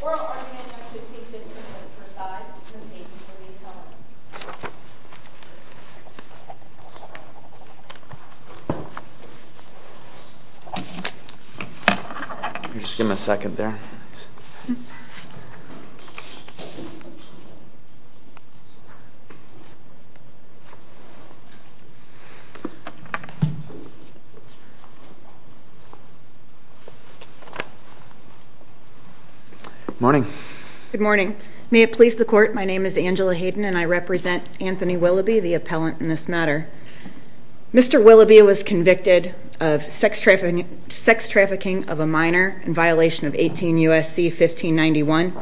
or Albany United States victims as per- side, from Dayton, Hawaii, to tell us? Give a second there. Good morning. May it please the court, my name is Angela Hayden and I represent Anthony Willoughby, the appellant in this matter. Mr. Willoughby was convicted of sex trafficking of a minor in violation of 18 U.S.C. 1591.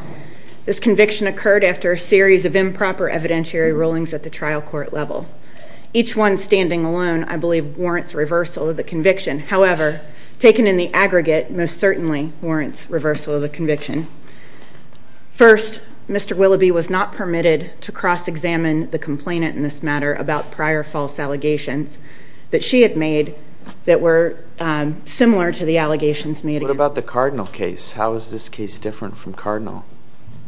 This conviction occurred after a series of improper evidentiary rulings at the trial court level. Each one standing alone, I believe, warrants reversal of the conviction. However, taken in the aggregate, most certainly warrants reversal of the conviction. First, Mr. Willoughby was not permitted to cross-examine the complainant in this matter about prior false allegations that she had made that were similar to the allegations made. What about the Cardinal case? How is this case different from Cardinal?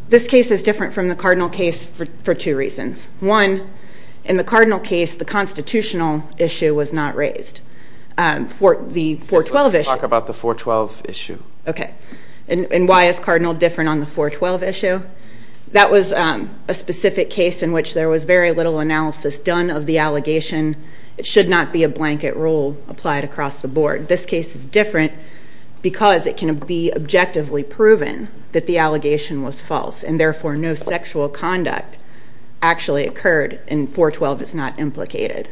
This case is different from the Cardinal case for two reasons. One, in the Cardinal case, the constitutional issue was not raised. For the 412 issue. Let's talk about the 412 issue. Okay. And why is Cardinal different on the 412 issue? That was a specific case in which there was very little analysis done of the allegation. It should not be a blanket rule applied across the board. This case is different because it can be objectively proven that the allegation was false and therefore no sexual conduct actually occurred and 412 is not implicated.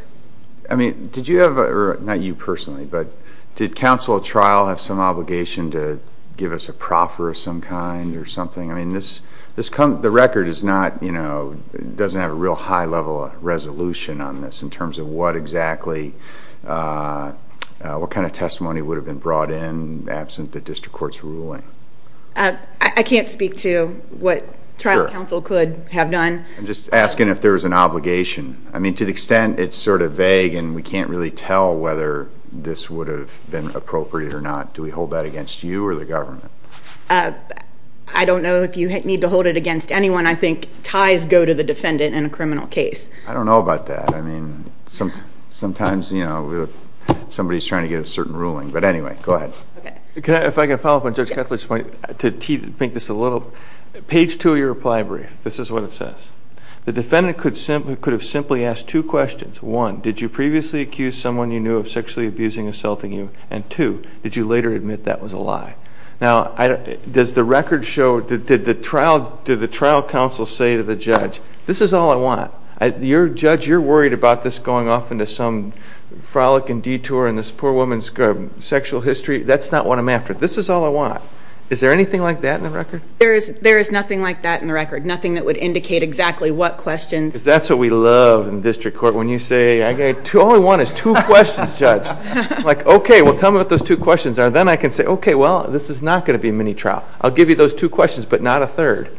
I mean, did you have, or not you personally, but did counsel at trial have some obligation to give us a proffer of some kind or something? I mean, this, the record is not, you know, doesn't have a real high level of resolution on this in terms of what exactly, what kind of testimony would have been brought in absent the district court's ruling. I can't speak to what trial counsel could have done. I'm just asking if there was an obligation. I mean, to the extent it's sort of vague and we can't really tell whether this would have been appropriate or not, do we hold that against you or the government? I don't know if you need to hold it against anyone. I think ties go to the defendant in a criminal case. I don't know about that. I mean, sometimes, you know, somebody's trying to get a certain ruling. But anyway, go ahead. Okay. If I can follow up on Judge Kessler's point, to paint this a little, page two of your reply brief, this is what it says. The defendant could have simply asked two questions. One, did you previously accuse someone you knew of sexually abusing and assaulting you? And two, did you later admit that was a lie? Now, does the record show, did the trial counsel say to the judge, this is all I want. Your judge, you're worried about this going off into some frolic and detour in this poor woman's sexual history, that's not what I'm after. This is all I want. Is there anything like that in the record? There is nothing like that in the record. Nothing that would indicate exactly what questions. That's what we love in district court. When you say, all I want is two questions, judge. Like, okay, well tell me what those two questions are. Then I can say, okay, well, this is not going to be a mini trial. I'll give you those two questions, but not a third.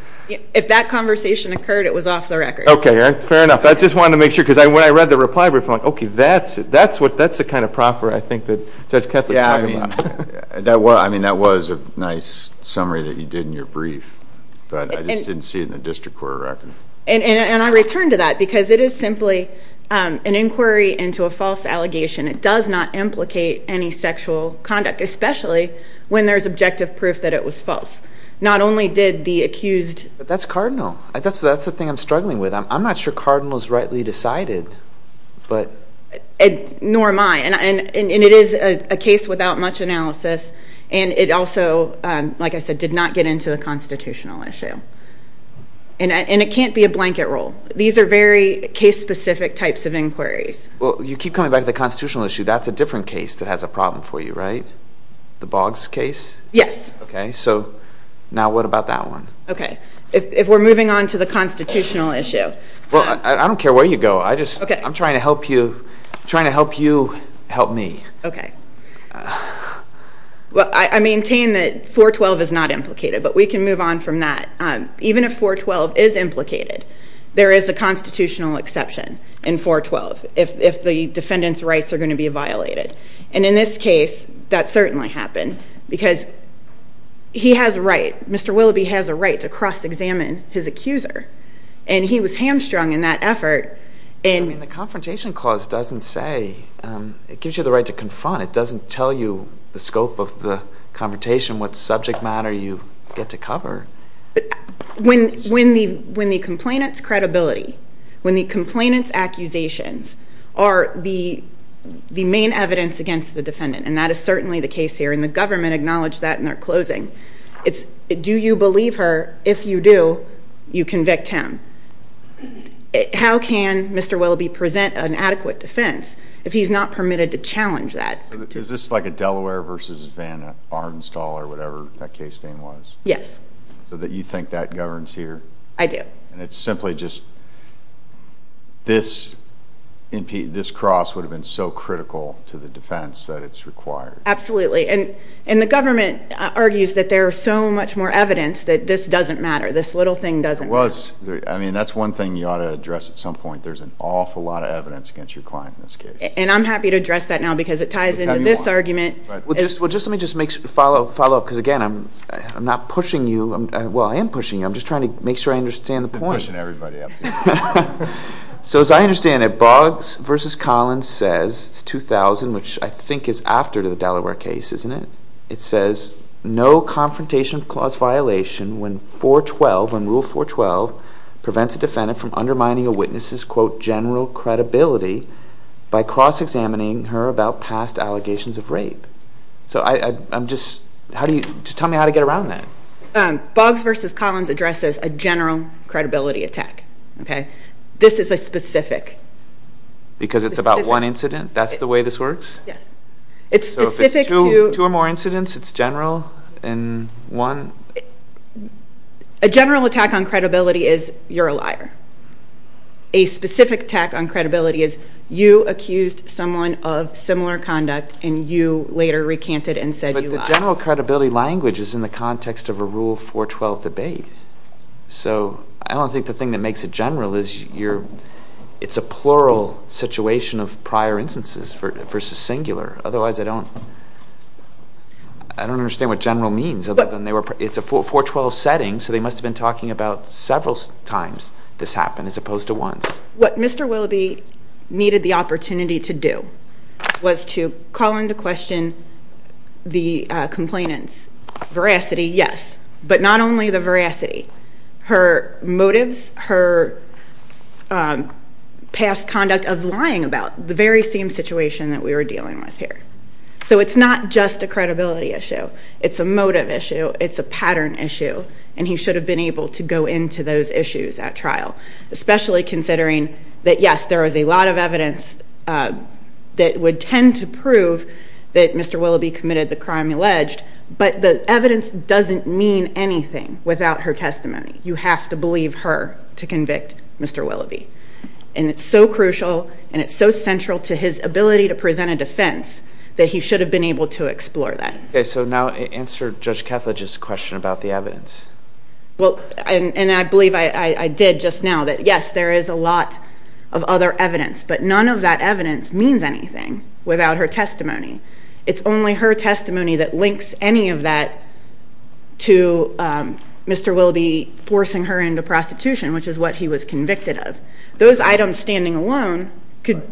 If that conversation occurred, it was off the record. Okay, that's fair enough. I just wanted to make sure, because when I read the reply brief, I'm like, okay, that's the kind of proffer I think that Judge Kessler's talking about. Yeah, I mean, that was a nice summary that you did in your brief. But I just didn't see it in the district court record. And I return to that, because it is simply an inquiry into a false allegation. It does not implicate any sexual conduct, especially when there's objective proof that it was false. Not only did the accused- That's cardinal. That's the thing I'm struggling with. I'm not sure cardinal's rightly decided, but- Nor am I. And it is a case without much analysis. And it also, like I said, did not get into a constitutional issue. And it can't be a blanket rule. These are very case-specific types of inquiries. Well, you keep coming back to the constitutional issue. That's a different case that has a problem for you, right? The Boggs case? Yes. Okay, so now what about that one? Okay, if we're moving on to the constitutional issue. Well, I don't care where you go. I just, I'm trying to help you, trying to help you help me. Okay, well, I maintain that 412 is not implicated, but we can move on from that. Even if 412 is implicated, there is a constitutional exception in 412. If the defendant's rights are going to be violated. And in this case, that certainly happened. Because he has a right, Mr. Willoughby has a right to cross-examine his accuser. And he was hamstrung in that effort, and- I mean, the confrontation clause doesn't say, it gives you the right to confront. It doesn't tell you the scope of the confrontation, what subject matter you get to cover. When the complainant's credibility, when the complainant's are the main evidence against the defendant. And that is certainly the case here, and the government acknowledged that in their closing. It's, do you believe her? If you do, you convict him. How can Mr. Willoughby present an adequate defense if he's not permitted to challenge that? Is this like a Delaware versus Vanna arm stall or whatever that case name was? Yes. So that you think that governs here? I do. And it's simply just, this cross would have been so critical to the defense that it's required. Absolutely, and the government argues that there are so much more evidence that this doesn't matter, this little thing doesn't matter. I mean, that's one thing you ought to address at some point. There's an awful lot of evidence against your client in this case. And I'm happy to address that now because it ties into this argument. But just let me just follow up, because again, I'm not pushing you. Well, I am pushing you. I'm just trying to make sure I understand the point. I've been pushing everybody up here. So as I understand it, Boggs versus Collins says, it's 2000, which I think is after the Delaware case, isn't it? It says, no confrontation of clause violation when 412, when rule 412 prevents a defendant from undermining a witness's, quote, general credibility by cross-examining her about past allegations of rape. So I'm just, how do you, just tell me how to get around that. Boggs versus Collins addresses a general credibility attack, OK? This is a specific. Because it's about one incident? That's the way this works? Yes. It's specific to- So if it's two or more incidents, it's general in one? A general attack on credibility is, you're a liar. A specific attack on credibility is, you accused someone of similar conduct, and you later recanted and said you lied. General credibility language is in the context of a rule 412 debate. So I don't think the thing that makes it general is you're, it's a plural situation of prior instances versus singular. Otherwise, I don't understand what general means, other than they were, it's a 412 setting, so they must have been talking about several times this happened, as opposed to once. What Mr. Willoughby needed the opportunity to do was to call into question the complainant's veracity, yes, but not only the veracity, her motives, her past conduct of lying about the very same situation that we were dealing with here. So it's not just a credibility issue, it's a motive issue, it's a pattern issue, and he should have been able to go into those issues at trial. Especially considering that, yes, there was a lot of evidence that would tend to prove that Mr. Willoughby committed the crime alleged, but the evidence doesn't mean anything without her testimony. You have to believe her to convict Mr. Willoughby. And it's so crucial, and it's so central to his ability to present a defense, that he should have been able to explore that. Okay, so now answer Judge Catholic's question about the evidence. Well, and I believe I did just now, that yes, there is a lot of other evidence, but none of that evidence means anything without her testimony. It's only her testimony that links any of that to Mr. Willoughby forcing her into prostitution, which is what he was convicted of. Those items standing alone could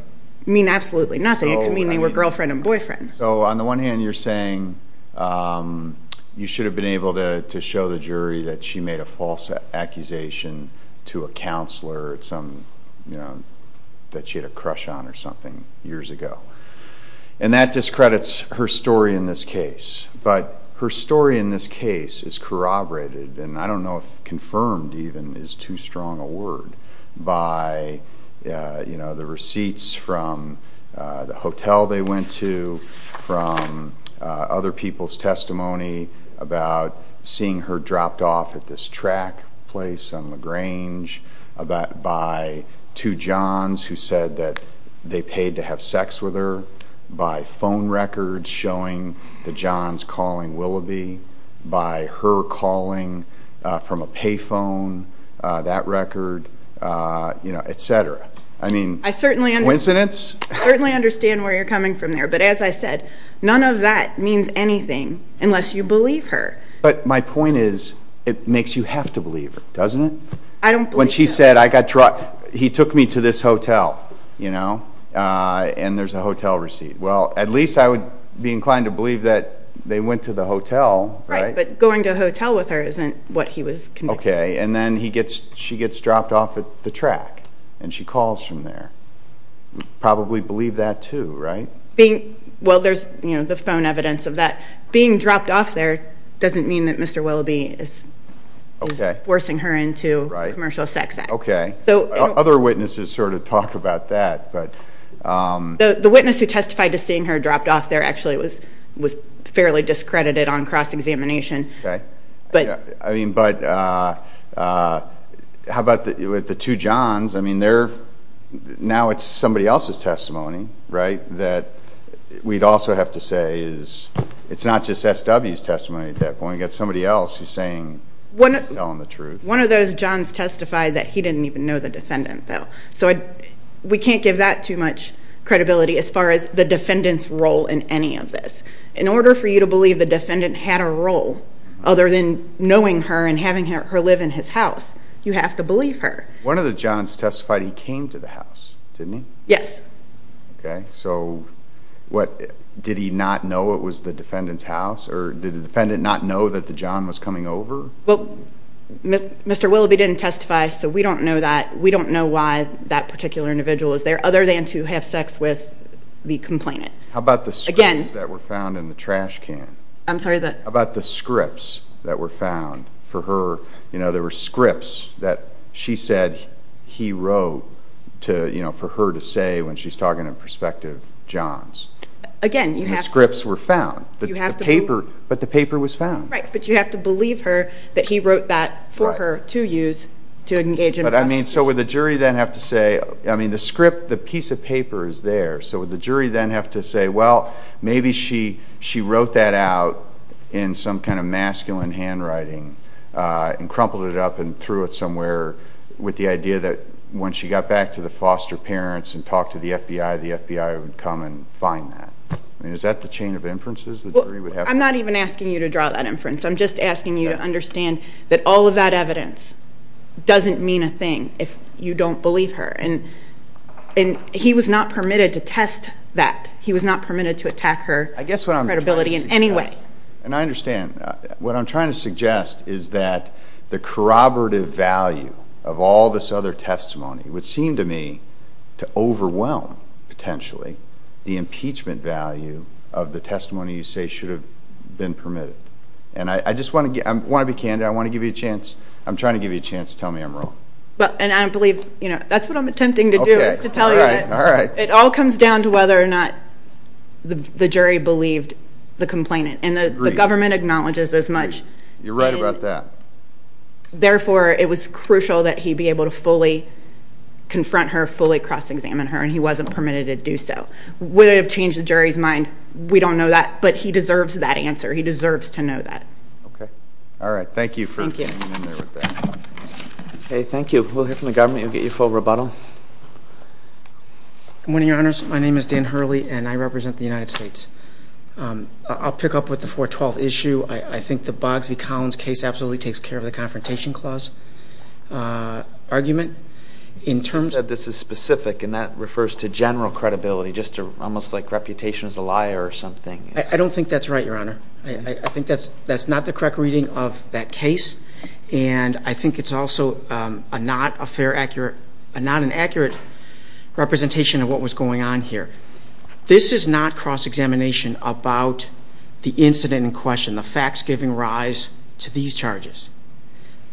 mean absolutely nothing. It could mean they were girlfriend and boyfriend. So on the one hand, you're saying you should have been able to show the jury that she made a false accusation to a counselor that she had a crush on or something years ago, and that discredits her story in this case. But her story in this case is corroborated, and I don't know if confirmed even is too strong a word, by the receipts from the hotel they went to, from other people's testimony about seeing her dropped off at this track place on LaGrange, by two Johns who said that they paid to have sex with her, by phone records showing the Johns calling Willoughby, by her calling from a pay phone, that record, etc. I mean, coincidence? I certainly understand where you're coming from there, but as I said, none of that means anything unless you believe her. But my point is, it makes you have to believe her, doesn't it? I don't believe her. When she said, he took me to this hotel, and there's a hotel receipt. Well, at least I would be inclined to believe that they went to the hotel, right? Right, but going to a hotel with her isn't what he was- Okay, and then she gets dropped off at the track, and she calls from there. Probably believe that, too, right? Well, there's the phone evidence of that. Being dropped off there doesn't mean that Mr. Willoughby is forcing her into a commercial sex act. Okay, other witnesses sort of talk about that, but- The witness who testified to seeing her dropped off there actually was fairly discredited on cross-examination. Okay, I mean, but how about the two Johns? I mean, now it's somebody else's testimony, right? That we'd also have to say is, it's not just SW's testimony at that point. We've got somebody else who's telling the truth. One of those Johns testified that he didn't even know the defendant, though. So we can't give that too much credibility as far as the defendant's role in any of this. In order for you to believe the defendant had a role other than knowing her and having her live in his house, you have to believe her. One of the Johns testified he came to the house, didn't he? Yes. Okay, so what, did he not know it was the defendant's house? Or did the defendant not know that the John was coming over? Well, Mr. Willoughby didn't testify, so we don't know that. That particular individual is there, other than to have sex with the complainant. How about the scripts that were found in the trash can? I'm sorry, the? How about the scripts that were found for her? You know, there were scripts that she said he wrote to, you know, for her to say when she's talking in perspective Johns. Again, you have to. Scripts were found. You have to believe. But the paper was found. Right, but you have to believe her that he wrote that for her to use to engage in. But I mean, so would the jury then have to say, I mean, the script, the piece of paper is there, so would the jury then have to say, well, maybe she wrote that out in some kind of masculine handwriting and crumpled it up and threw it somewhere with the idea that once she got back to the foster parents and talked to the FBI, the FBI would come and find that. I mean, is that the chain of inferences the jury would have? I'm not even asking you to draw that inference. I'm just asking you to understand that all of that evidence doesn't mean a thing if you don't believe her. And he was not permitted to test that. He was not permitted to attack her credibility in any way. And I understand. What I'm trying to suggest is that the corroborative value of all this other testimony would seem to me to overwhelm, potentially, the impeachment value of the testimony you say should have been permitted. I want to give you a chance. I'm trying to give you a chance to tell me I'm wrong. And I believe, that's what I'm attempting to do, is to tell you that it all comes down to whether or not the jury believed the complainant. And the government acknowledges as much. You're right about that. Therefore, it was crucial that he be able to fully confront her, fully cross-examine her, and he wasn't permitted to do so. Would it have changed the jury's mind? We don't know that, but he deserves that answer. He deserves to know that. Okay. All right. Thank you for- Hey, thank you. We'll hear from the government. You'll get your full rebuttal. Good morning, your honors. My name is Dan Hurley, and I represent the United States. I'll pick up with the 412 issue. I think the Boggs v. Collins case absolutely takes care of the confrontation clause argument. In terms of- You said this is specific, and that refers to general credibility, just almost like reputation as a liar or something. I don't think that's right, your honor. I think that's not the correct reading of that case. And I think it's also not an accurate representation of what was going on here. This is not cross-examination about the incident in question, the facts giving rise to these charges.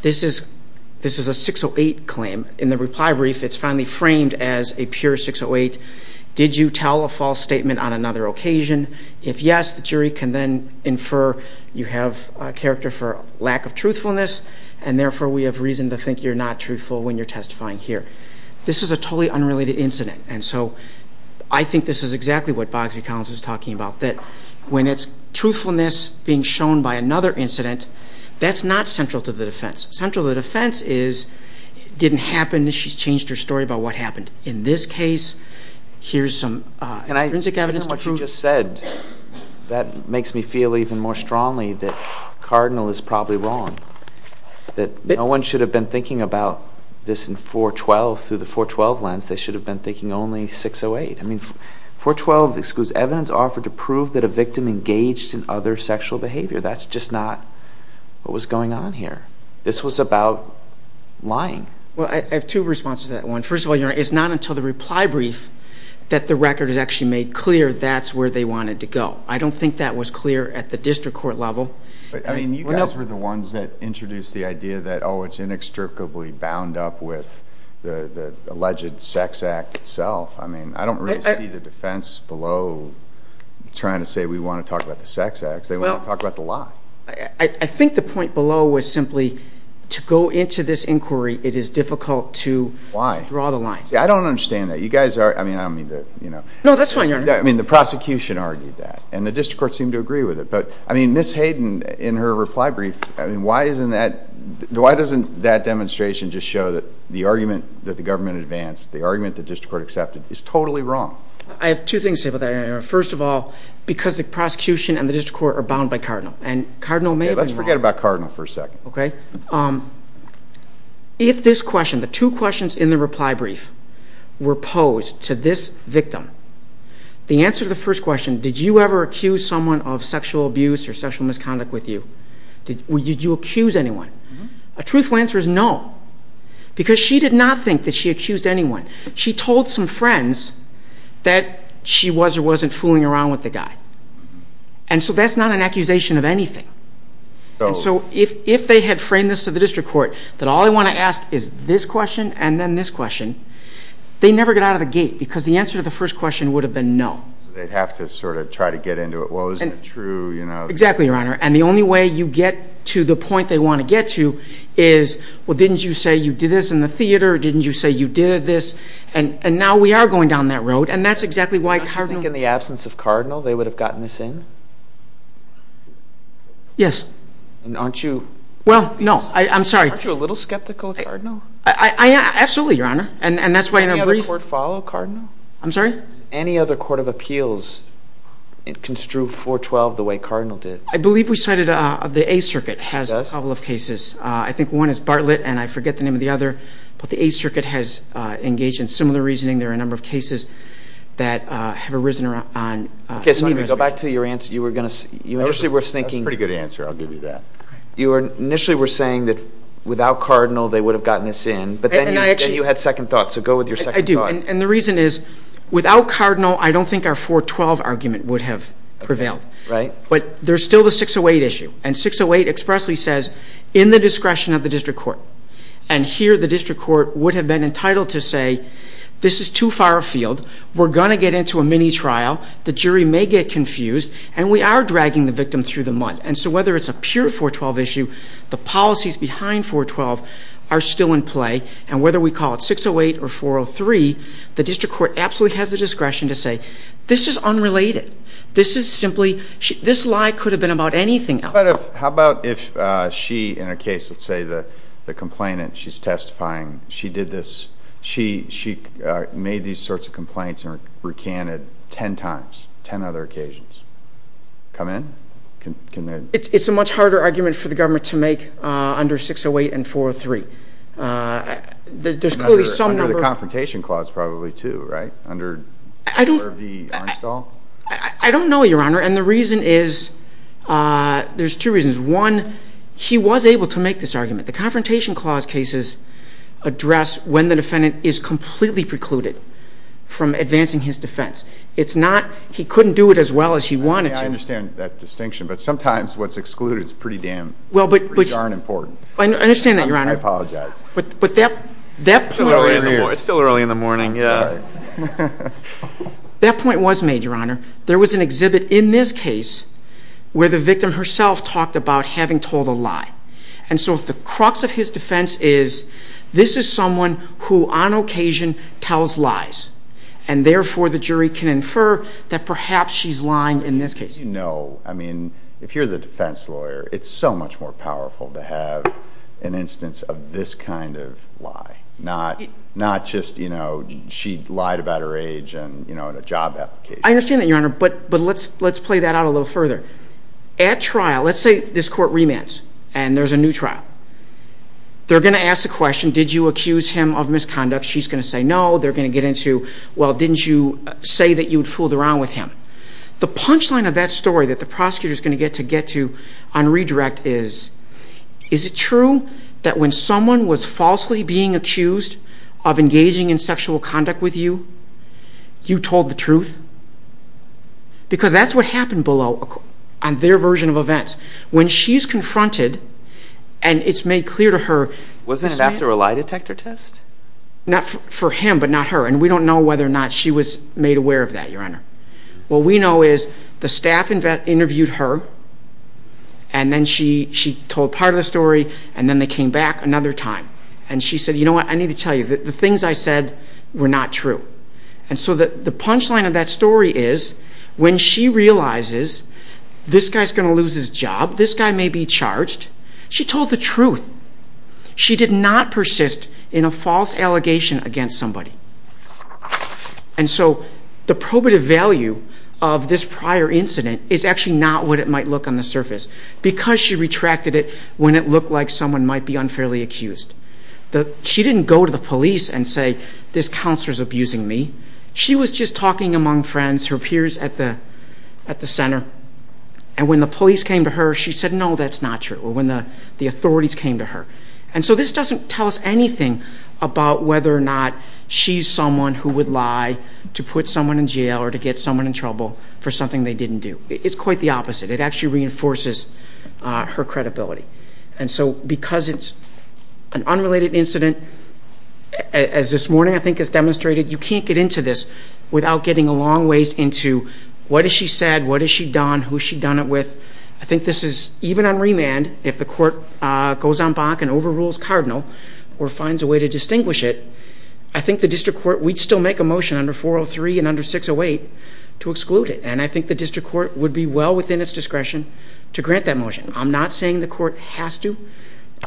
This is a 608 claim. In the reply brief, it's finally framed as a pure 608. Did you tell a false statement on another occasion? If yes, the jury can then infer you have a character for lack of truthfulness, and therefore, we have reason to think you're not truthful when you're testifying here. This is a totally unrelated incident. And so, I think this is exactly what Boggs v. Collins is talking about, that when it's truthfulness being shown by another incident, that's not central to the defense. Central to the defense is, it didn't happen, she's changed her story about what happened. In this case, here's some forensic evidence to prove- is probably wrong, that no one should have been thinking about this in 412, through the 412 lens, they should have been thinking only 608. I mean, 412 excludes evidence offered to prove that a victim engaged in other sexual behavior. That's just not what was going on here. This was about lying. Well, I have two responses to that one. First of all, it's not until the reply brief that the record is actually made clear that's where they wanted to go. I don't think that was clear at the district court level. I mean, you guys were the ones that introduced the idea that, oh, it's inextricably bound up with the alleged sex act itself. I mean, I don't really see the defense below trying to say we want to talk about the sex acts, they want to talk about the lie. I think the point below was simply to go into this inquiry, it is difficult to draw the line. See, I don't understand that. You guys are, I mean, I don't mean to, you know. No, that's fine, Your Honor. I mean, the prosecution argued that. And the district court seemed to agree with it. But, I mean, Ms. Hayden, in her reply brief, I mean, why isn't that, why doesn't that demonstration just show that the argument that the government advanced, the argument the district court accepted, is totally wrong? I have two things to say about that, Your Honor. First of all, because the prosecution and the district court are bound by Cardinal. And Cardinal may have been wrong. Let's forget about Cardinal for a second. Okay. If this question, the two questions in the reply brief were posed to this victim, the answer to the first question, did you ever accuse someone of sexual abuse or sexual misconduct with you? Did you accuse anyone? A truthful answer is no. Because she did not think that she accused anyone. She told some friends that she was or wasn't fooling around with the guy. And so that's not an accusation of anything. And so if they had framed this to the district court, that all they want to ask is this question and then this question, they never get out of the gate. Because the answer to the first question would have been no. They'd have to sort of try to get into it. Well, isn't it true, you know? Exactly, Your Honor. And the only way you get to the point they want to get to is, well, didn't you say you did this in the theater? Didn't you say you did this? And now we are going down that road. And that's exactly why Cardinal. Don't you think in the absence of Cardinal, they would have gotten this in? Yes. And aren't you? Well, no. I'm sorry. Aren't you a little skeptical of Cardinal? Absolutely, Your Honor. And that's why in a brief. Any other court follow Cardinal? I'm sorry? Any other court of appeals construe 412 the way Cardinal did? I believe we cited the Eighth Circuit has a couple of cases. I think one is Bartlett, and I forget the name of the other. But the Eighth Circuit has engaged in similar reasoning. There are a number of cases that have arisen on any of those cases. Go back to your answer. You initially were thinking. That's a pretty good answer. I'll give you that. You initially were saying that without Cardinal, they would have gotten this in. But then you said you had second thoughts. So go with your second thought. I do. And the reason is, without Cardinal, I don't think our 412 argument would have prevailed. Right. But there's still the 608 issue. And 608 expressly says, in the discretion of the district court. And here, the district court would have been entitled to say, this is too far afield. We're going to get into a mini trial. The jury may get confused. And we are dragging the victim through the mud. And so whether it's a pure 412 issue, the policies behind 412 are still in play. And whether we call it 608 or 403, the district court absolutely has the discretion to say, this is unrelated. This is simply, this lie could have been about anything else. How about if she, in her case, let's say the complainant, she's testifying. She did this. She made these sorts of complaints and recanted 10 times, 10 other occasions. Come in. It's a much harder argument for the government to make under 608 and 403. There's clearly some number of. Under the confrontation clause, probably, too, right? Under the Armstall? I don't know, Your Honor. And the reason is, there's two reasons. One, he was able to make this argument. The confrontation clause cases address when the defendant is completely precluded from advancing his defense. It's not, he couldn't do it as well as he wanted to. I understand that distinction. But sometimes, what's excluded is pretty darn important. I understand that, Your Honor. I apologize. But that point was made, Your Honor. There was an exhibit in this case where the victim herself talked about having told a lie. And so, if the crux of his defense is, this is someone who, on occasion, tells lies. And therefore, the jury can infer that perhaps she's lying in this case. You know, I mean, if you're the defense lawyer, it's so much more powerful to have an instance of this kind of lie. Not just, you know, she lied about her age in a job application. I understand that, Your Honor. But let's play that out a little further. At trial, let's say this court remands. And there's a new trial. They're going to ask the question, did you accuse him of misconduct? She's going to say no. They're going to get into, well, didn't you say that you'd fooled around with him? The punchline of that story that the prosecutor's going to get to get to on redirect is, is it true that when someone was falsely being accused of engaging in sexual conduct with you, you told the truth? Because that's what happened below on their version of events. When she's confronted, and it's made clear to her, this man. Wasn't it after a lie detector test? Not for him, but not her. And we don't know whether or not she was made aware of that, Your Honor. What we know is the staff interviewed her. And then she told part of the story. And then they came back another time. And she said, you know what? I need to tell you that the things I said were not true. And so the punchline of that story is, when she realizes this guy's going to lose his job, this guy may be charged, she told the truth. She did not persist in a false allegation against somebody. And so the probative value of this prior incident is actually not what it might look on the surface, because she retracted it when it looked like someone might be unfairly accused. She didn't go to the police and say, this counselor's abusing me. She was just talking among friends, her peers at the center. And when the police came to her, she said, no, that's not true. Or when the authorities came to her. And so this doesn't tell us anything about whether or not she's someone who would lie to put someone in jail or to get someone in trouble for something they didn't do. It's quite the opposite. It actually reinforces her credibility. And so because it's an unrelated incident, as this morning, I think, has demonstrated, you can't get into this without getting a long ways into, what has she said? What has she done? Who has she done it with? I think this is, even on remand, if the court goes on bonk and overrules Cardinal or finds a way to distinguish it, I think the district court, we'd still make a motion under 403 and under 608 to exclude it. And I think the district court would be well within its discretion to grant that motion. I'm not saying the court has to,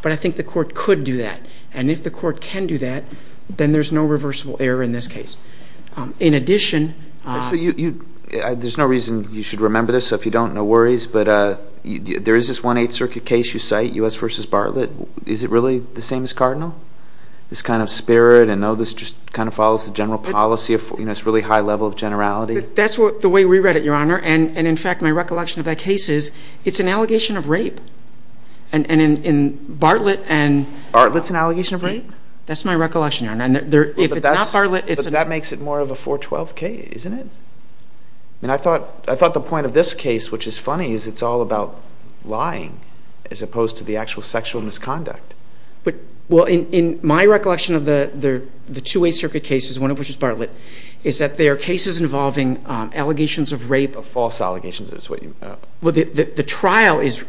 but I think the court could do that. And if the court can do that, then there's no reversible error in this case. In addition, So there's no reason you should remember this. If you don't, no worries. But there is this 1-8 circuit case you cite, U.S. versus Bartlett, is it really the same as Cardinal? This kind of spirit, and no, this just kind of follows the general policy. It's really high level of generality. That's the way we read it, Your Honor. And in fact, my recollection of that case is, it's an allegation of rape. And in Bartlett and- Bartlett's an allegation of rape? That's my recollection, Your Honor. If it's not Bartlett, it's- But that makes it more of a 412-K, isn't it? And I thought the point of this case, which is funny, is it's all about lying, as opposed to the actual sexual misconduct. Well, in my recollection of the 2-8 circuit cases, one of which is Bartlett, is that there are cases involving allegations of rape- Of false allegations, is what you- Well, the trial is,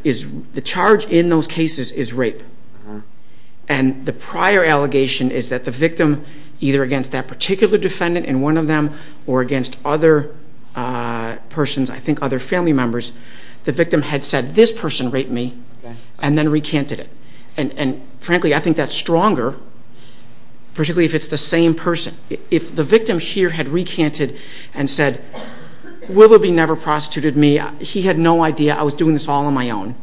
the charge in those cases is rape. And the prior allegation is that the victim, either against that particular defendant in one of them, or against other persons, I think other family members, the victim had said, this person raped me, and then recanted it. And frankly, I think that's stronger, particularly if it's the same person. If the victim here had recanted and said, Willoughby never prostituted me, he had no idea, I was doing this all on my own,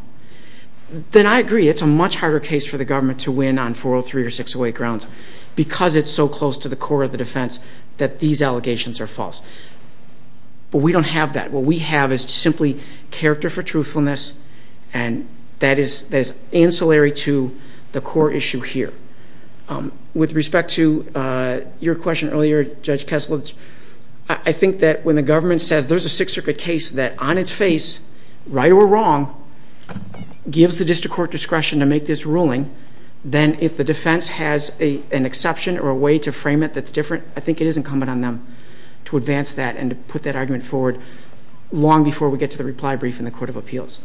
then I agree. It's a much harder case for the government to win on 403 or 608 grounds, because it's so close to the core of the defense that these allegations are false. But we don't have that. What we have is simply character for truthfulness, and that is ancillary to the core issue here. With respect to your question earlier, Judge Kessler, I think that when the government says there's a Sixth Circuit case that, on its face, right or wrong, gives the district court discretion to make this ruling, then if the defense has an exception or a way to frame it that's different, I think it is incumbent on them to advance that and to put that argument forward long before we get to the reply brief in the Court of Appeals.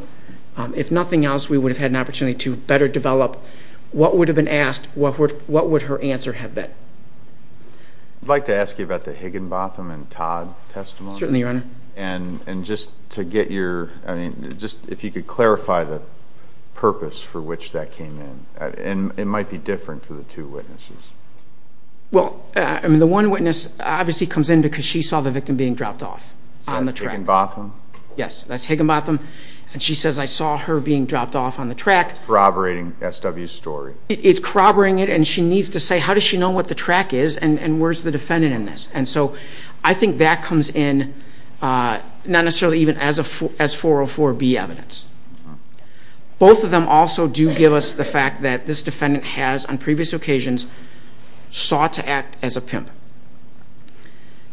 If nothing else, we would have had an opportunity to better develop what would have been asked, what would her answer have been. I'd like to ask you about the Higginbotham and Todd testimonies. Certainly, Your Honor. And just to get your, I mean, just if you could clarify the purpose for which that came in. And it might be different for the two witnesses. Well, I mean, the one witness obviously comes in because she saw the victim being dropped off on the track. Higginbotham? Yes, that's Higginbotham. And she says, I saw her being dropped off on the track. Corroborating SW's story. It's corroborating it, and she needs to say, how does she know what the track is and where's the defendant in this? And so I think that comes in, not necessarily even as 404B evidence. Both of them also do give us the fact that this defendant has, on previous occasions, sought to act as a pimp.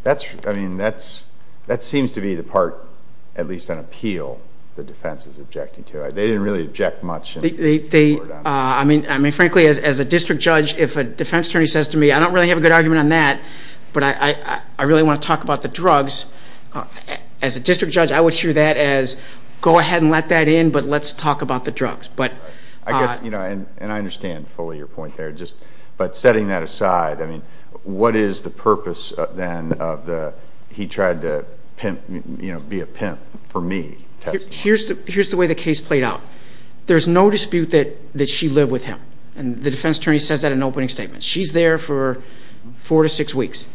That's, I mean, that's, that seems to be the part, at least on appeal, the defense is objecting to. They didn't really object much. They, I mean, frankly, as a district judge, if a defense attorney says to me, I don't really have a good argument on that, but I really want to talk about the drugs, as a district judge, I would hear that as, go ahead and let that in, but let's talk about the drugs. But I guess, you know, and I understand fully your point there, just, but setting that aside, I mean, what is the purpose, then, of the, he tried to pimp, you know, be a pimp for me? Here's the way the case played out. There's no dispute that she lived with him, and the defense attorney says that in opening statements. She's there for four to six weeks.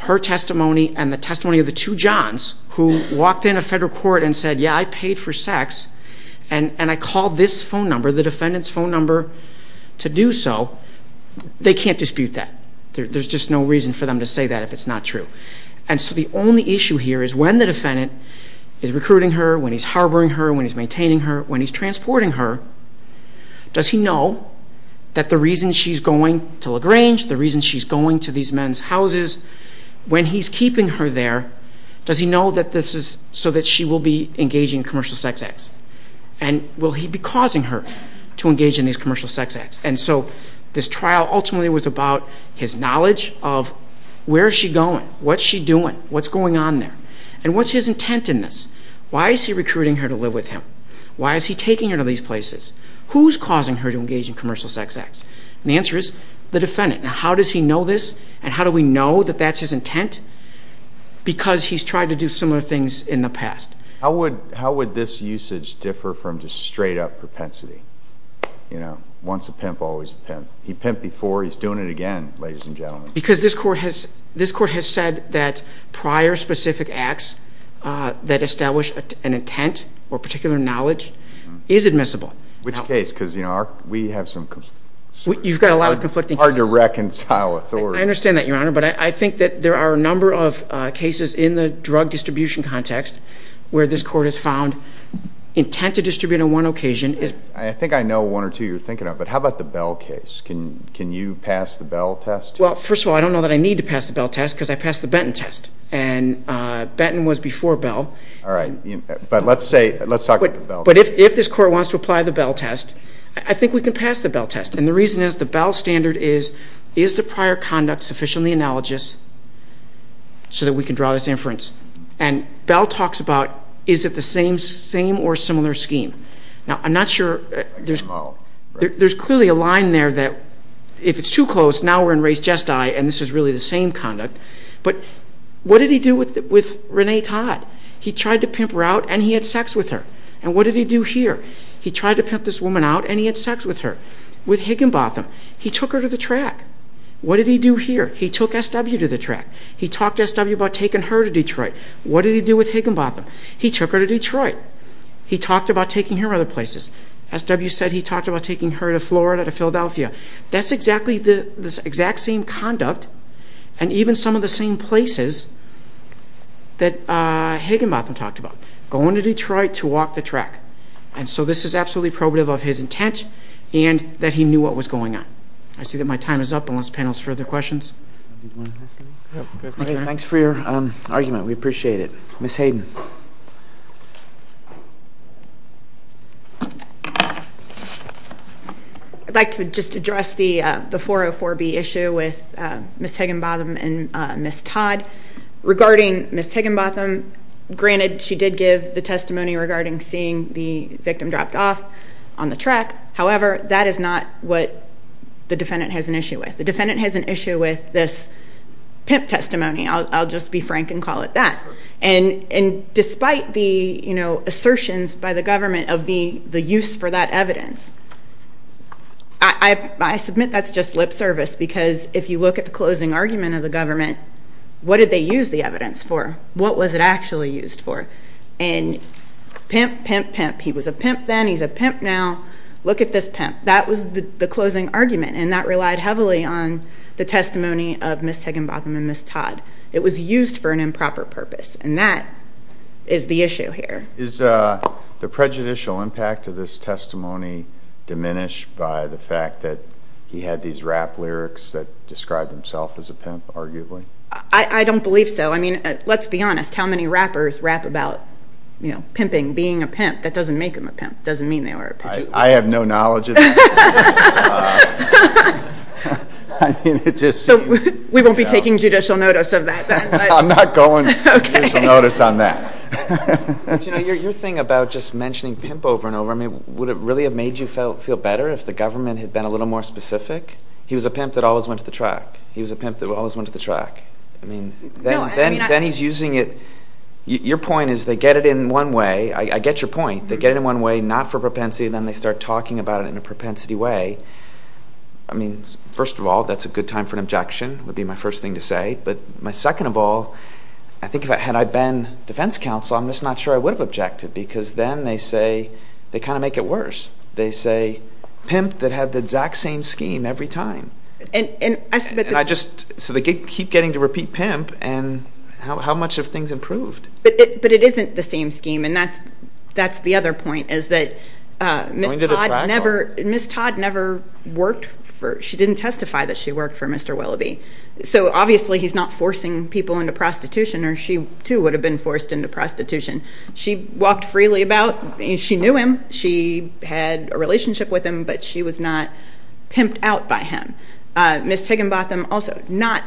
Her testimony and the testimony of the two Johns, who walked into federal court and said, yeah, I paid for sex, and I called this phone number, the defendant's phone number, to do so, they can't dispute that. There's just no reason for them to say that if it's not true. And so the only issue here is when the defendant is recruiting her, when he's harboring her, when he's maintaining her, when he's transporting her, does he know that the reason she's going to LaGrange, the reason she's going to these men's houses, when he's keeping her there, does he know that this is so that she will be engaging in commercial sex acts? And will he be causing her to engage in these commercial sex acts? And so this trial ultimately was about his knowledge of where's she going, what's she doing, what's going on there, and what's his intent in this? Why is he recruiting her to live with him? Why is he taking her to these places? Who's causing her to engage in commercial sex acts? And the answer is the defendant. Now, how does he know this, and how do we know that that's his intent? Because he's tried to do similar things in the past. How would this usage differ from just straight up propensity? You know, once a pimp, always a pimp. He pimped before, he's doing it again, ladies and gentlemen. Because this court has said that prior specific acts that establish an intent or particular knowledge is admissible. Which case, because you know, we have some... You've got a lot of conflicting cases. Hard to reconcile authority. I understand that, Your Honor, but I think that there are a number of cases in the drug distribution context where this court has found intent to distribute on one occasion is... I think I know one or two you're thinking of, but how about the Bell case? Can you pass the Bell test? Well, first of all, I don't know that I need to pass the Bell test because I passed the Benton test. And Benton was before Bell. All right, but let's say, let's talk about the Bell test. But if this court wants to apply the Bell test, I think we can pass the Bell test. And the reason is the Bell standard is, is the prior conduct sufficiently analogous so that we can draw this inference? And Bell talks about, is it the same or similar scheme? Now, I'm not sure there's clearly a line there that if it's too close, now we're in race jest die, and this is really the same conduct. But what did he do with Renee Todd? He tried to pimp her out and he had sex with her. And what did he do here? He tried to pimp this woman out and he had sex with her. With Higginbotham, he took her to the track. What did he do here? He took SW to the track. He talked to SW about taking her to Detroit. What did he do with Higginbotham? He took her to Detroit. He talked about taking her other places. SW said he talked about taking her to Florida, to Philadelphia. That's exactly the exact same conduct and even some of the same places that Higginbotham talked about, going to Detroit to walk the track. And so this is absolutely probative of his intent and that he knew what was going on. I see that my time is up, unless the panel has further questions. Thanks for your argument, we appreciate it. Ms. Hayden. I'd like to just address the 404B issue with Ms. Higginbotham and Ms. Todd. Regarding Ms. Higginbotham, granted she did give the testimony regarding seeing the victim dropped off on the track. However, that is not what the defendant has an issue with. The defendant has an issue with this pimp testimony. And despite the assertion that Ms. Higginbotham by the government of the use for that evidence. I submit that's just lip service because if you look at the closing argument of the government, what did they use the evidence for? What was it actually used for? And pimp, pimp, pimp. He was a pimp then, he's a pimp now. Look at this pimp. That was the closing argument and that relied heavily on the testimony of Ms. Higginbotham and Ms. Todd. It was used for an improper purpose and that is the issue here. Is the prejudicial impact of this testimony diminished by the fact that he had these rap lyrics that described himself as a pimp, arguably? I don't believe so. I mean, let's be honest. How many rappers rap about pimping, being a pimp? That doesn't make them a pimp. It doesn't mean they were a pimp. I have no knowledge of that. I mean, it just seems. We won't be taking judicial notice of that. I'm not going to judicial notice on that. Your thing about just mentioning pimp over and over, I mean, would it really have made you feel better if the government had been a little more specific? He was a pimp that always went to the track. He was a pimp that always went to the track. I mean, then he's using it. Your point is they get it in one way. I get your point. They get it in one way, not for propensity, then they start talking about it in a propensity way. I mean, first of all, that's a good time for an objection, would be my first thing to say. But my second of all, I think had I been defense counsel, I'm just not sure I would have objected, because then they say, they kind of make it worse. They say, pimp that had the exact same scheme every time. So they keep getting to repeat pimp, and how much have things improved? But it isn't the same scheme, and that's the other point, is that Ms. Todd never worked for, she didn't testify that she worked for Mr. Willoughby. So obviously, he's not forcing people into prostitution, or she, too, would have been forced into prostitution. She walked freely about. She knew him. She had a relationship with him, but she was not pimped out by him. Ms. Higginbotham also, not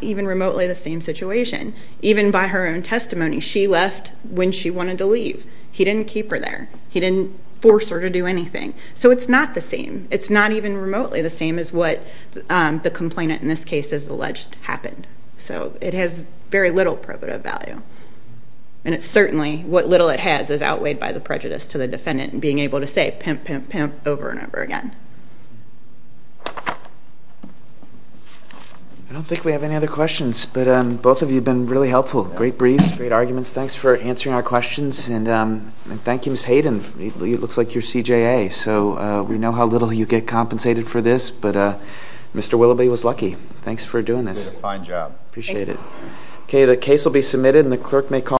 even remotely the same situation. Even by her own testimony, she left when she wanted to leave. He didn't keep her there. He didn't force her to do anything. So it's not the same. It's not even remotely the same as what the complainant in this case is alleged happened. So it has very little probative value. And it's certainly, what little it has is outweighed by the prejudice to the defendant in being able to say, pimp, pimp, pimp, over and over again. I don't think we have any other questions, but both of you have been really helpful. Great briefs, great arguments. Thanks for answering our questions. And thank you, Ms. Hayden. It looks like you're CJA. So we know how little you get compensated for this, but Mr. Willoughby was lucky. Thanks for doing this. Appreciate it. OK, the case will be submitted, and the clerk may call.